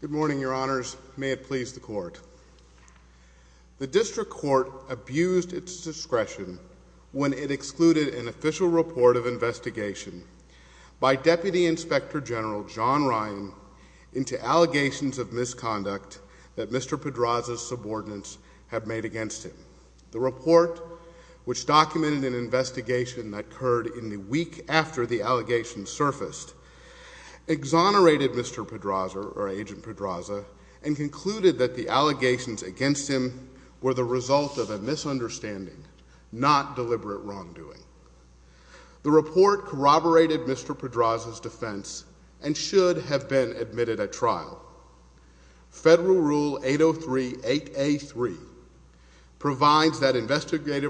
Good morning, your honors. May it please the court. The district court abused its discretion when it excluded an official report of investigation by Deputy Inspector General John Ryan into allegations of misconduct that Mr. Pedraza's subordinates have made against him. The report, which documented an investigation that occurred in the week after the allegations surfaced, exonerated Mr. Pedraza, or Agent Pedraza, and concluded that the allegations against him were the result of a misunderstanding, not deliberate wrongdoing. The report corroborated Mr. Pedraza's investigative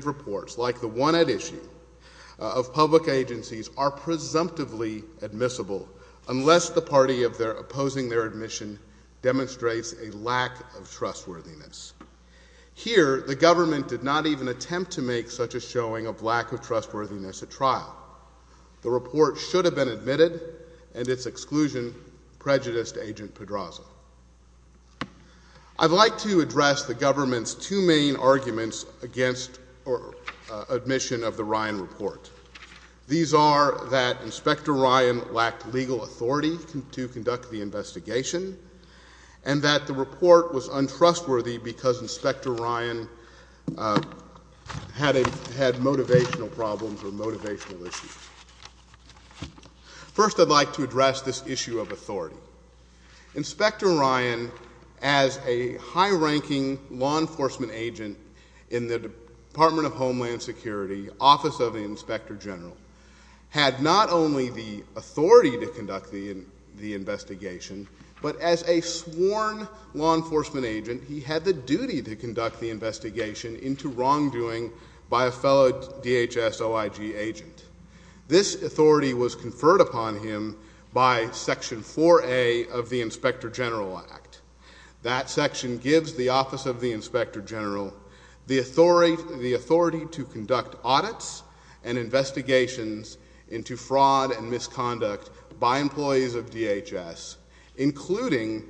reports, like the one at issue, of public agencies, are presumptively admissible unless the party opposing their admission demonstrates a lack of trustworthiness. Here, the government did not even attempt to make such a showing of lack of trustworthiness at trial. The report should have been admitted, and its exclusion prejudiced Agent Pedraza. I'd like to address the government's two main arguments against admission of the Ryan report. These are that Inspector Ryan lacked legal authority to conduct the investigation, and that the report was untrustworthy because Inspector Ryan had motivational problems or motivational authority. Inspector Ryan, as a high-ranking law enforcement agent in the Department of Homeland Security, Office of the Inspector General, had not only the authority to conduct the investigation, but as a sworn law enforcement agent, he had the duty to conduct the investigation into wrongdoing by a fellow DHS OIG agent. This authority was conferred upon him by Section 4A of the Inspector General Act. That section gives the Office of the Inspector General the authority to conduct audits and investigations into fraud and misconduct by employees of DHS, including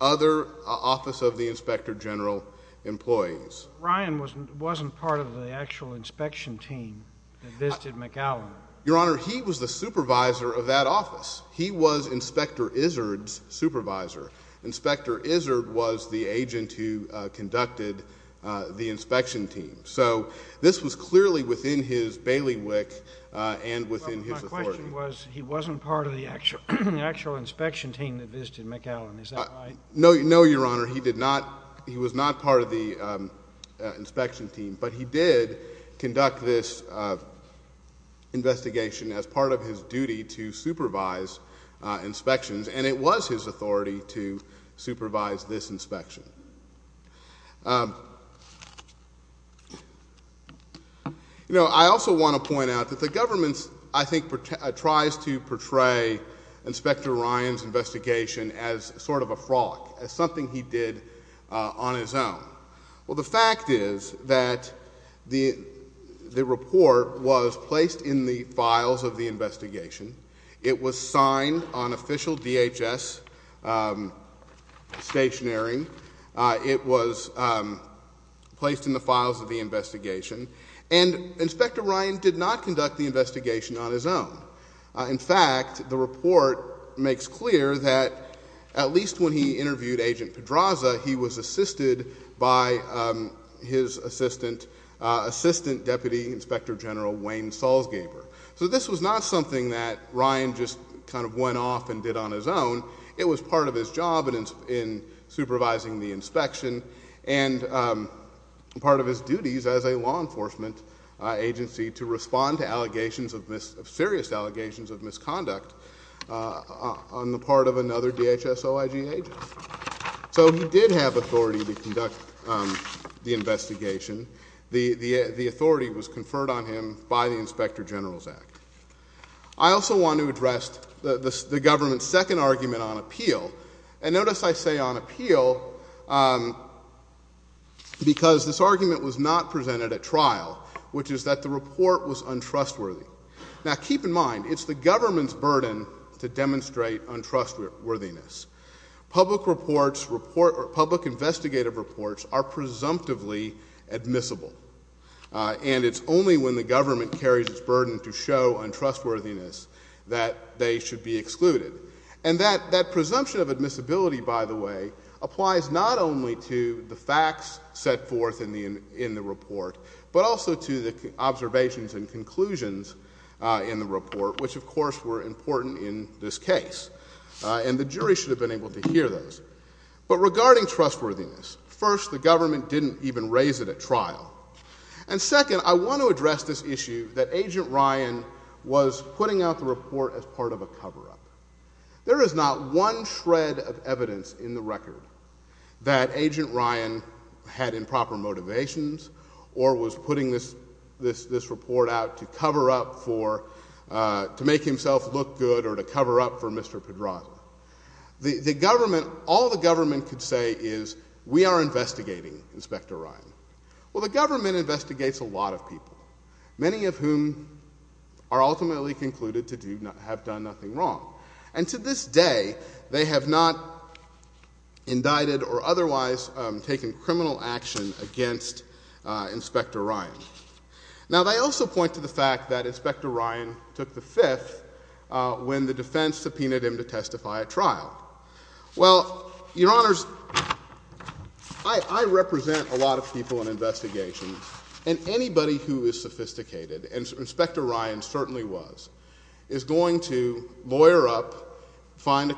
other Office of the Inspector General employees. Ryan wasn't part of the actual inspection team that visited McAllen. Your Honor, he was the supervisor of that office. He was Inspector Izzard's supervisor. Inspector Izzard was the agent who conducted the inspection team. So this was clearly within his bailiwick and within his authority. My question was, he wasn't part of the actual inspection team that visited McAllen, is that right? No, Your Honor, he was not part of the inspection team, but he did conduct this investigation as part of his duty to supervise inspections, and it was his authority to supervise this inspection. I also want to point out that the government, I think, tries to portray Inspector Ryan's sort of a frolic, as something he did on his own. Well, the fact is that the report was placed in the files of the investigation. It was signed on official DHS stationery. It was placed in the files of the investigation. And Inspector Ryan did not conduct the investigation on his own. In fact, the report makes clear that at least when he interviewed Agent Pedraza, he was assisted by his assistant Deputy Inspector General Wayne Salzgeber. So this was not something that Ryan just kind of went off and did on his own. It was part of his job in supervising the inspection and part of his duties as a law enforcement agency to respond to serious allegations of misconduct on the part of another DHS OIG agent. So he did have authority to conduct the investigation. The authority was conferred on him by the Inspector General's Act. I also want to address the government's second argument on appeal. And notice I say on appeal because this argument was not presented at trial, which is that the report was untrustworthy. Now, keep in mind, it's the government's burden to demonstrate untrustworthiness. Public reports, public investigative reports are presumptively admissible. And it's only when the government carries its burden to show untrustworthiness that they should be excluded. And that presumption of admissibility, by the way, applies not only to the facts set forth in the report, but also to the observations and conclusions in the report, which of course were important in this case. And the jury should have been able to hear those. But regarding trustworthiness, first, the government didn't even raise it at trial. And second, I want to address this issue that Agent Ryan was putting out the report as part of a cover-up. There is not one shred of evidence in the record that Agent Ryan had improper motivations or was putting this report out to cover up for, to make himself look good or to cover up for Mr. Pedraza. The government, all the government could say is, we are investigating, Inspector Ryan. Well, the government investigates a lot of people, many of whom are ultimately concluded to have done nothing wrong. And to this day, they have not indicted or otherwise taken criminal action against Inspector Ryan. Now they also point to the fact that Inspector Ryan took the fifth when the defense subpoenaed him to testify at trial. Well, Your Honors, I represent a lot of people in investigations and anybody who is sophisticated, and Inspector Ryan certainly was, is going to lawyer up, find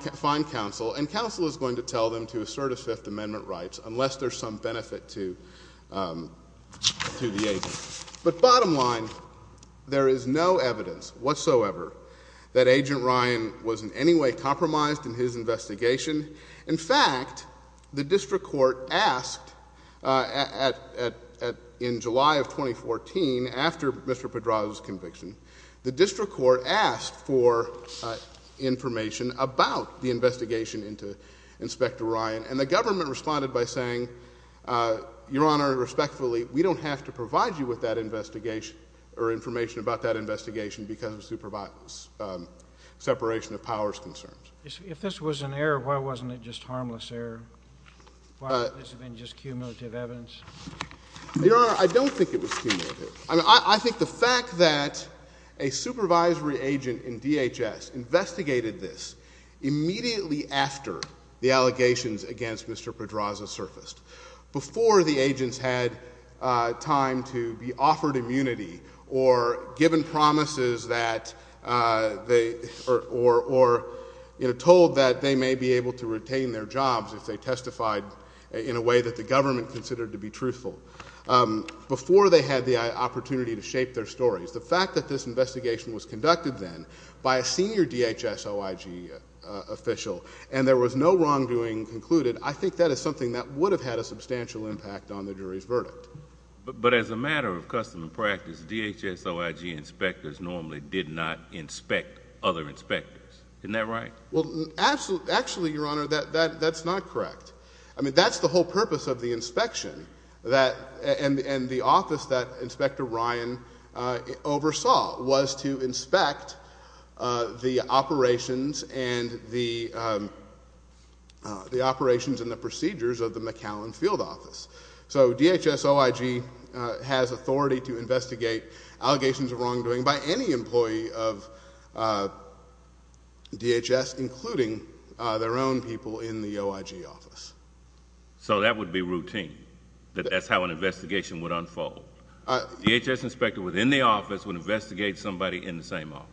counsel, and counsel is going to tell them to assert his Fifth Amendment rights unless there's some benefit to the agent. But bottom line, there is no evidence whatsoever that Agent Ryan was in any way compromised in his investigation. In fact, the district court asked in July of 2014, after Mr. Pedraza's conviction, the district court asked for information about the investigation into Inspector Ryan and the government responded by saying, Your Honor, respectfully, we don't have to provide you with that investigation or information about that investigation because of separation of powers concerns. If this was an error, why wasn't it just harmless error? Why wasn't this just cumulative evidence? Your Honor, I don't think it was cumulative. I think the fact that a supervisory agent in DHS investigated this immediately after the allegations against Mr. Pedraza surfaced, before the agents had time to be offered immunity or given promises that they, or, you know, told that they may be able to retain their jobs if they testified in a way that the government considered to be truthful, before they had the opportunity to shape their stories, the fact that this investigation was conducted then by a senior DHS OIG official and there was no wrongdoing concluded, I think that is something that would have had a substantial impact on the jury's verdict. But as a matter of custom and practice, DHS OIG inspectors normally did not inspect other inspectors. Isn't that right? Well, actually, Your Honor, that's not correct. I mean, that's the whole purpose of the inspection and the office that Inspector Ryan oversaw was to inspect the operations and the procedures of the McAllen Field Office. So DHS OIG has authority to investigate allegations of wrongdoing by any employee of DHS, including their own people in the OIG office. So that would be routine, that that's how an investigation would unfold. A DHS inspector within the office would investigate somebody in the same office.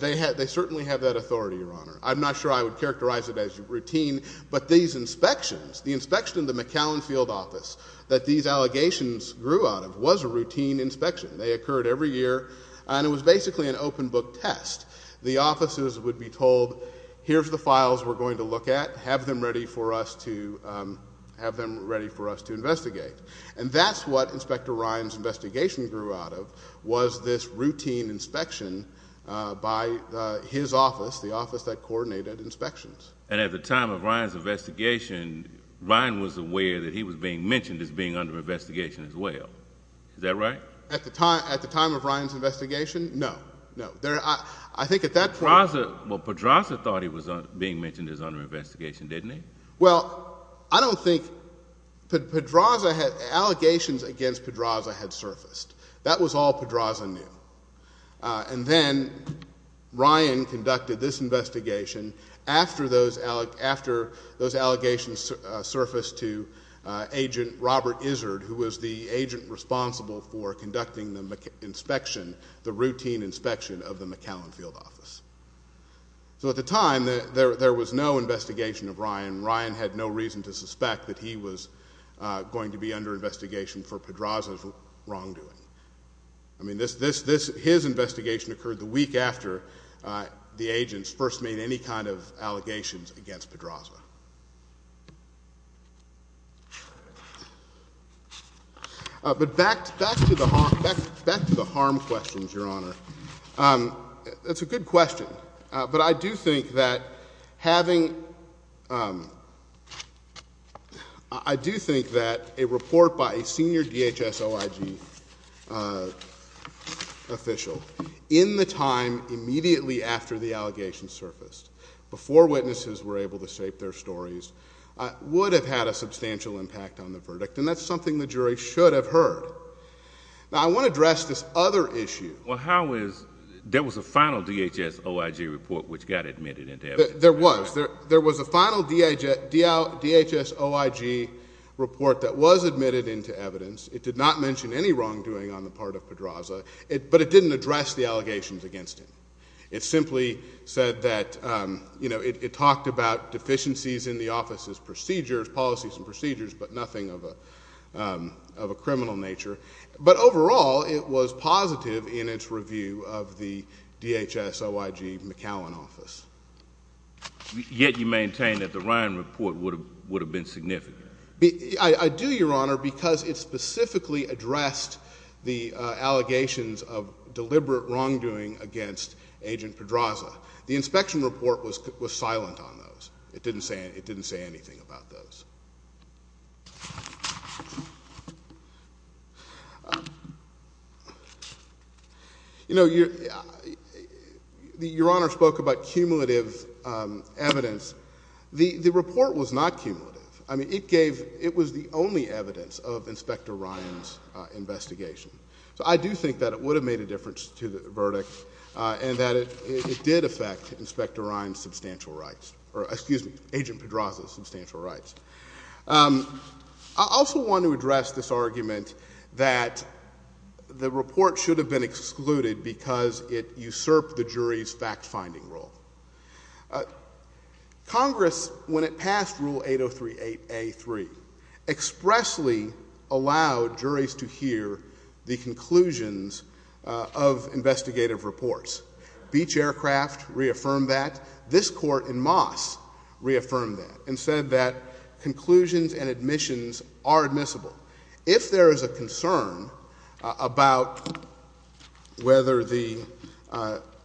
They certainly have that authority, Your Honor. I'm not sure I would characterize it as routine, but these inspections, the inspection of the McAllen Field Office that these allegations grew out of was a routine inspection. They occurred every year and it was basically an open book test. The offices would be told, here's the files we're going to look at, have them ready for us to investigate. And that's what Inspector Ryan's investigation grew out of was this routine inspection by his office, the office that coordinated inspections. And at the time of Ryan's investigation, Ryan was aware that he was being mentioned as being under investigation as well. Is that right? At the time of Ryan's investigation? No. No. I think at that point... Pedraza, well Pedraza thought he was being mentioned as under investigation, didn't he? Well, I don't think, Pedraza had, allegations against Pedraza had surfaced. That was all Pedraza knew. And then Ryan conducted this investigation after those allegations surfaced to Agent Robert Izzard, who was the agent responsible for conducting the inspection, the routine inspection of the McAllen Field Office. So at the time, there was no investigation of Ryan. Ryan had no reason to suspect that he was going to be under investigation for Pedraza's wrongdoing. I mean, his investigation occurred the week after the agents first made any kind of allegations against Pedraza. But back to the harm questions, Your Honor. That's a good question. But I do think that having... I do think that a report by a senior DHS OIG official in the time immediately after the allegations surfaced, before witnesses were able to shape their stories, would have had a substantial impact on the verdict. And that's something the jury should have heard. Now I want to address this other issue. Well how is... there was a final DHS OIG report which got admitted into evidence. There was. There was a final DHS OIG report that was admitted into evidence. It did not mention any wrongdoing on the part of Pedraza. But it didn't address the allegations against him. It simply said that, you know, it talked about deficiencies in the office's procedures, policies and procedures, but nothing of a criminal nature. But overall, it was positive in its review of the DHS OIG McAllen office. Yet you maintain that the Ryan report would have been significant. I do, Your Honor, because it specifically addressed the allegations of deliberate wrongdoing against Agent Pedraza. The inspection report was silent on those. It didn't say anything about those. You know, Your Honor spoke about cumulative evidence. The report was not cumulative. I mean, it gave... it was the only evidence of Inspector Ryan's investigation. So I do think that it would have made a difference to the verdict, and that it did affect Inspector Pedraza's substantial rights. I also want to address this argument that the report should have been excluded because it usurped the jury's fact-finding role. Congress, when it passed Rule 8038A.3, expressly allowed juries to hear the conclusions of investigative reports. Beach Aircraft reaffirmed that. This Court in Moss reaffirmed that and said that conclusions and admissions are admissible. If there is a concern about whether the...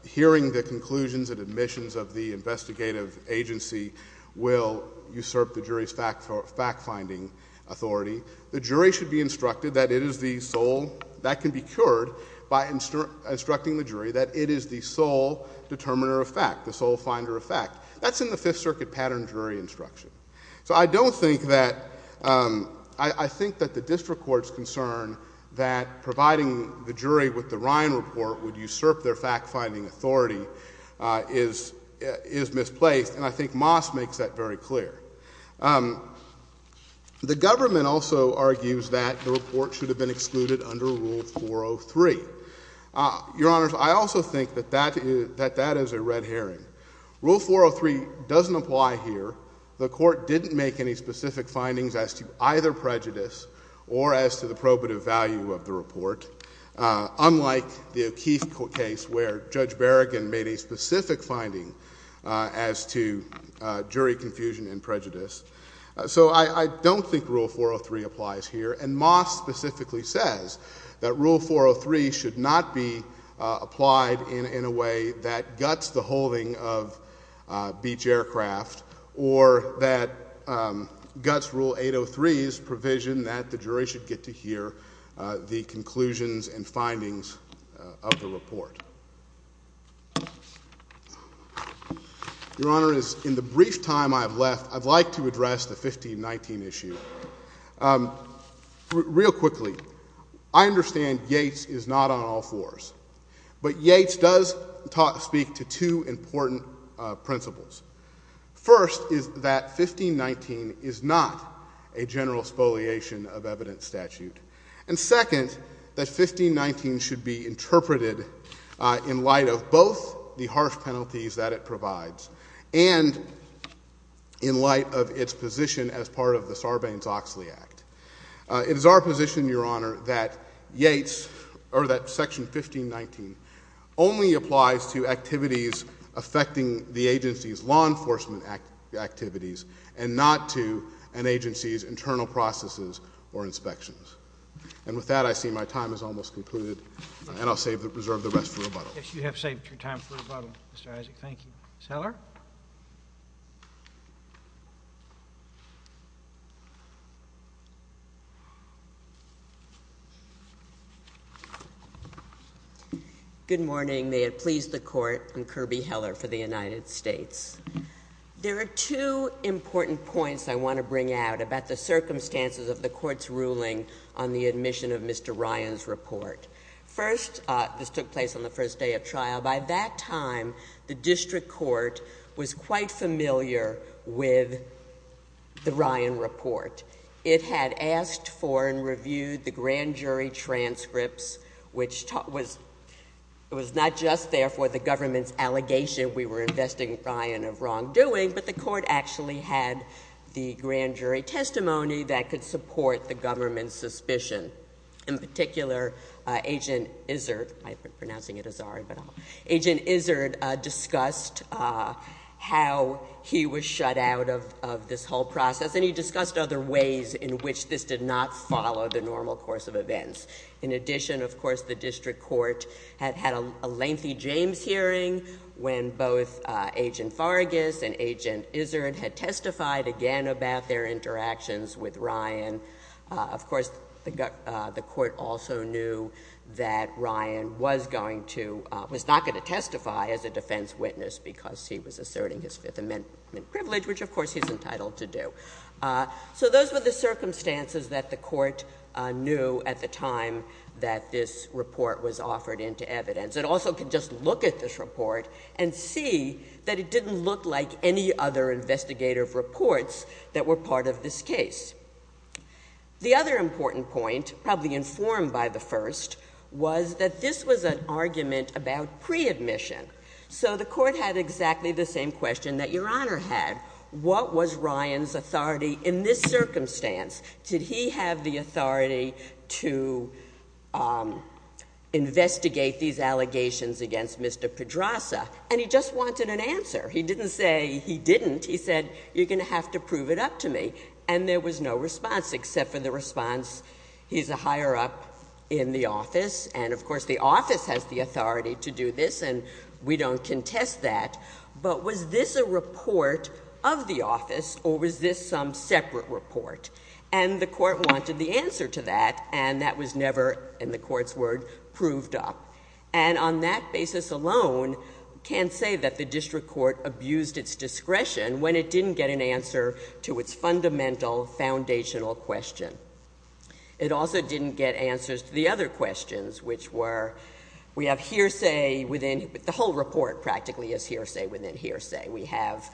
hearing the conclusions and admissions of the investigative agency will usurp the jury's fact-finding authority, the jury should be instructed that it is the sole... that can be cured by instructing the jury that it is the sole determiner of fact, the sole finder of fact. That's in the Fifth Circuit Pattern Jury Instruction. So I don't think that... I think that the district court's concern that providing the jury with the Ryan report would usurp their fact-finding authority is misplaced, and I think Moss makes that very clear. The government also argues that the report should have been excluded under Rule 403. Your Honors, I also think that that is a red herring. Rule 403 doesn't apply here. The Court didn't make any specific findings as to either prejudice or as to the probative value of the report, unlike the O'Keefe case where Judge Berrigan made a specific finding as to jury confusion and prejudice. So I don't think Rule 403 applies here, and Moss specifically says that Rule 403 should not be applied in a way that guts the holding of beach aircraft or that guts Rule 803's provision that the jury should get to hear the conclusions and findings of the report. Your Honors, in the brief time I have left, I'd like to address the 1519 issue. Real quickly, I understand Yates is not on all fours, but Yates does speak to two important principles. First is that 1519 is not a general spoliation of evidence statute, and second, that 1519 should be interpreted in light of both the harsh penalties that it provides and in light of its position as part of the Sarbanes-Oxley Act. It is our position, Your Honor, that Yates, or that Section 1519, only applies to activities affecting the agency's law enforcement activities and not to an agency's internal processes or inspections. And with that, I see my time has almost concluded, and I'll reserve the rest for rebuttal. Mr. Isaac, thank you. Ms. Heller? Good morning. May it please the Court, I'm Kirby Heller for the United States. There are two important points I want to bring out about the circumstances of the Court's ruling on the admission of Mr. Ryan's report. First, this took place on the first day of trial. Now, by that time, the District Court was quite familiar with the Ryan report. It had asked for and reviewed the grand jury transcripts, which was not just there for the government's allegation we were investing in Ryan of wrongdoing, but the Court actually had the grand jury testimony that could support the government's suspicion. In particular, Agent Izzard, I mean, Agent Izzard discussed how he was shut out of this whole process, and he discussed other ways in which this did not follow the normal course of events. In addition, of course, the District Court had had a lengthy James hearing when both Agent Faragas and Agent Izzard had testified again about their interactions with Ryan. Of course, the Court also knew that Ryan was going to, was not going to testify as a defense witness because he was asserting his Fifth Amendment privilege, which, of course, he's entitled to do. So those were the circumstances that the Court knew at the time that this report was offered into evidence. It also could just look at this report and see that it didn't look like any other investigative reports that were part of this case. The other important point, probably informed by the first, was that this was an argument about pre-admission. So the Court had exactly the same question that Your Honor had. What was Ryan's authority in this circumstance? Did he have the authority to investigate these allegations against Mr. Pedraza? And he just wanted an answer. He didn't say he didn't. He said, you're going to have to prove it up to me. And there was no response, except for the response, he's a higher up in the office, and of course the office has the authority to do this, and we don't contest that. But was this a report of the office, or was this some separate report? And the Court wanted the answer to that, and that was never, in the Court's word, proved up. And on that basis alone, can't say that the District Court abused its discretion when it didn't get an answer to its fundamental, foundational question. It also didn't get answers to the other questions, which were, we have hearsay within, the whole report practically is hearsay within hearsay. We have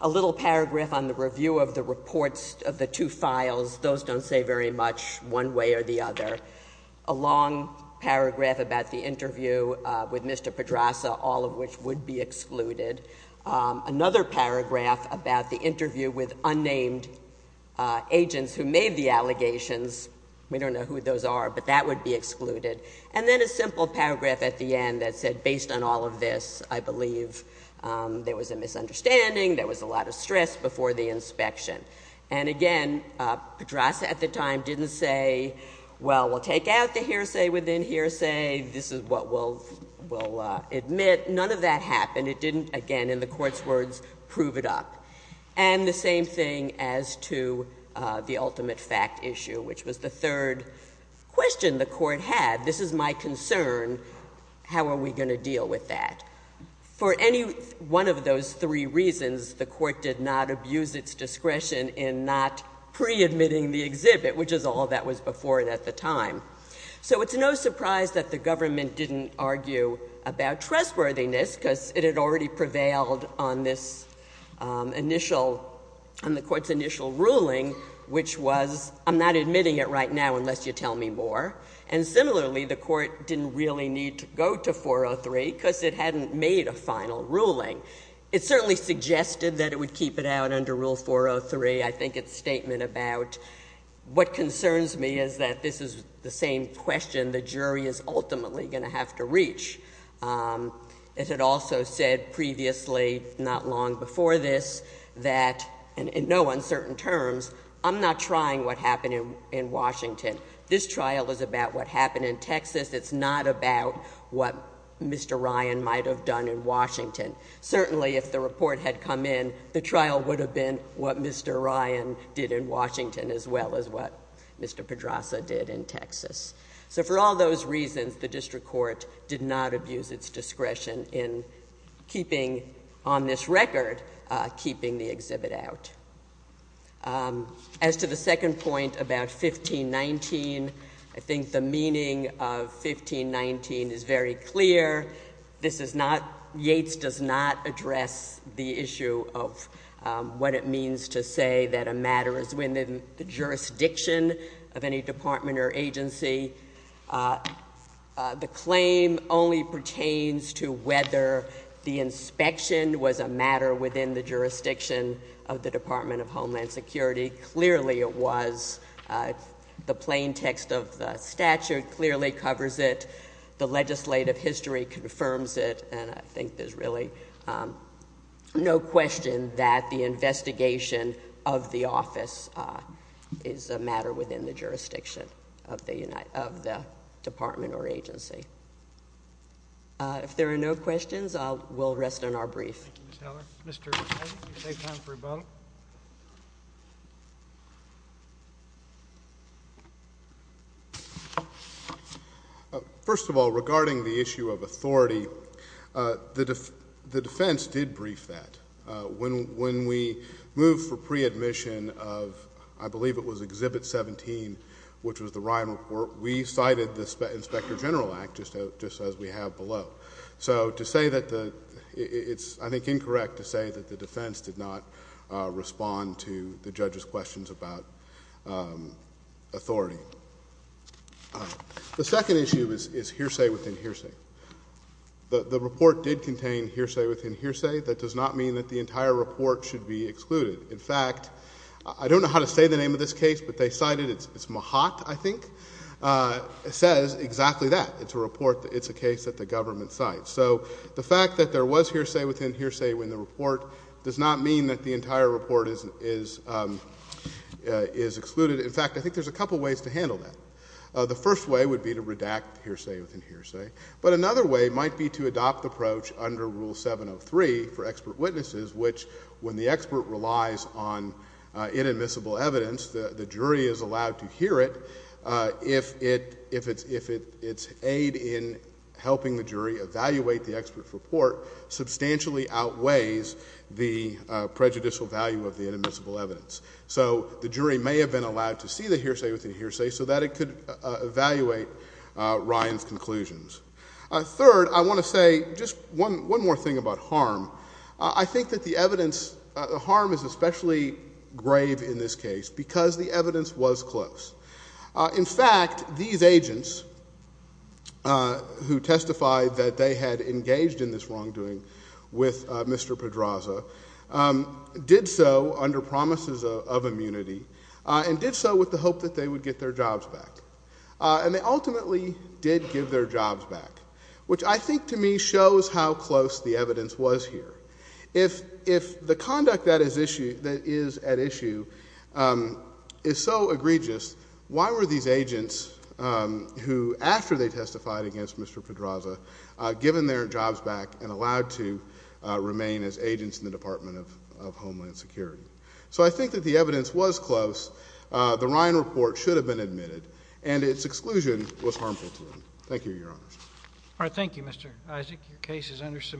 a little paragraph on the review of the reports of the two files. Those don't say very much, one way or the other. A long paragraph about the interview with Mr. Pedraza, all of which would be excluded. Another paragraph about the interview with unnamed agents who made the allegations. We don't know who those are, but that would be excluded. And then a simple paragraph at the end that said, based on all of this, I believe there was a misunderstanding, there was a lot of stress before the inspection. And again, Pedraza at the time didn't say, well, we'll take out the hearsay within hearsay, this is what we'll admit. None of that happened. It didn't, again, in the Court's words, prove it up. And the same thing as to the ultimate fact issue, which was the third question the Court had, this is my concern, how are we going to deal with that? For any one of those three reasons, the Court did not abuse its discretion in not pre-admitting the exhibit, which is all that was before it at the time. So it's no surprise that the government didn't argue about trustworthiness, because it had already prevailed on this initial, on the Court's initial ruling, which was, I'm not admitting it right now unless you tell me more. And similarly, the Court didn't really need to go to 403, because it hadn't made a final ruling. It certainly suggested that it would keep it out under Rule 403. I think its statement about, what concerns me is that this is the same question the jury is ultimately going to have to reach. It had also said previously, not long before this, that, in no uncertain terms, I'm not trying what happened in Washington. This trial is about what happened in Texas. It's not about what Mr. Ryan might have done in Washington. Certainly, if the report had come in, the trial would have been what Mr. Ryan did in Washington, as well as what Mr. Pedraza did in Texas. So for all those reasons, the District Court did not abuse its discretion in keeping, on this record, keeping the exhibit out. As to the second point about 1519, I think the meaning of 1519 is very clear. This is not, Yates does not address the issue of what it means to say that a matter is within the jurisdiction of any department or agency. The claim only pertains to whether the inspection was a matter within the jurisdiction of the Department of Homeland Security. Clearly, it was. The plain text of the statute clearly covers it. The legislative history confirms it, and I think there's really no question that the investigation of the office is a matter within the jurisdiction of the department or agency. If there are no questions, we'll rest on our brief. Thank you, Ms. Heller. Mr. Pedraza, you save time for rebuttal. First of all, regarding the issue of authority, the defense did brief that. When we moved for pre-admission of, I believe it was Exhibit 17, which was the Ryan report, we cited the Inspector General Act, just as we have below. So to say that the, it's, I think, incorrect to say that the defense did not respond to the judge's questions about authority. The second issue is hearsay within hearsay. The report did contain hearsay within hearsay. That does not mean that the entire report should be excluded. In fact, I don't know how to say the name of this case, but they cited it. It's Mahat, I think. It says exactly that. It's a report, it's a case that the government cites. So the fact that there was hearsay within hearsay in the report does not mean that the entire report is excluded. In fact, I think there's a couple ways to handle that. The first way would be to redact hearsay within hearsay. But another way might be to adopt the approach under Rule 703 for expert witnesses, which, when the expert relies on inadmissible evidence, the jury is allowed to hear it if it's aid in helping the jury evaluate the expert's report substantially outweighs the prejudicial value of the inadmissible evidence. So the jury may have been allowed to see the hearsay within hearsay so that it could evaluate Ryan's conclusions. Third, I want to say just one more thing about harm. I think that the evidence, the harm is especially grave in this case because the evidence was close. In fact, these agents who testified that they had engaged in this wrongdoing with Mr. Pedraza did so under promises of immunity and did so with the hope that they would get their jobs back. And they ultimately did give their jobs back, which I think to me shows how close the evidence was here. If the conduct that is at issue is so egregious, why were these agents who testified that they had engaged in this wrongdoing with Mr. Pedraza given their jobs back and allowed to remain as agents in the Department of Homeland Security? So I think that the evidence was close. The Ryan report should have been admitted, and its exclusion was harmful to them. Thank you, Your Honor. All right. Thank you, Mr. Isaac. Your case is under submission.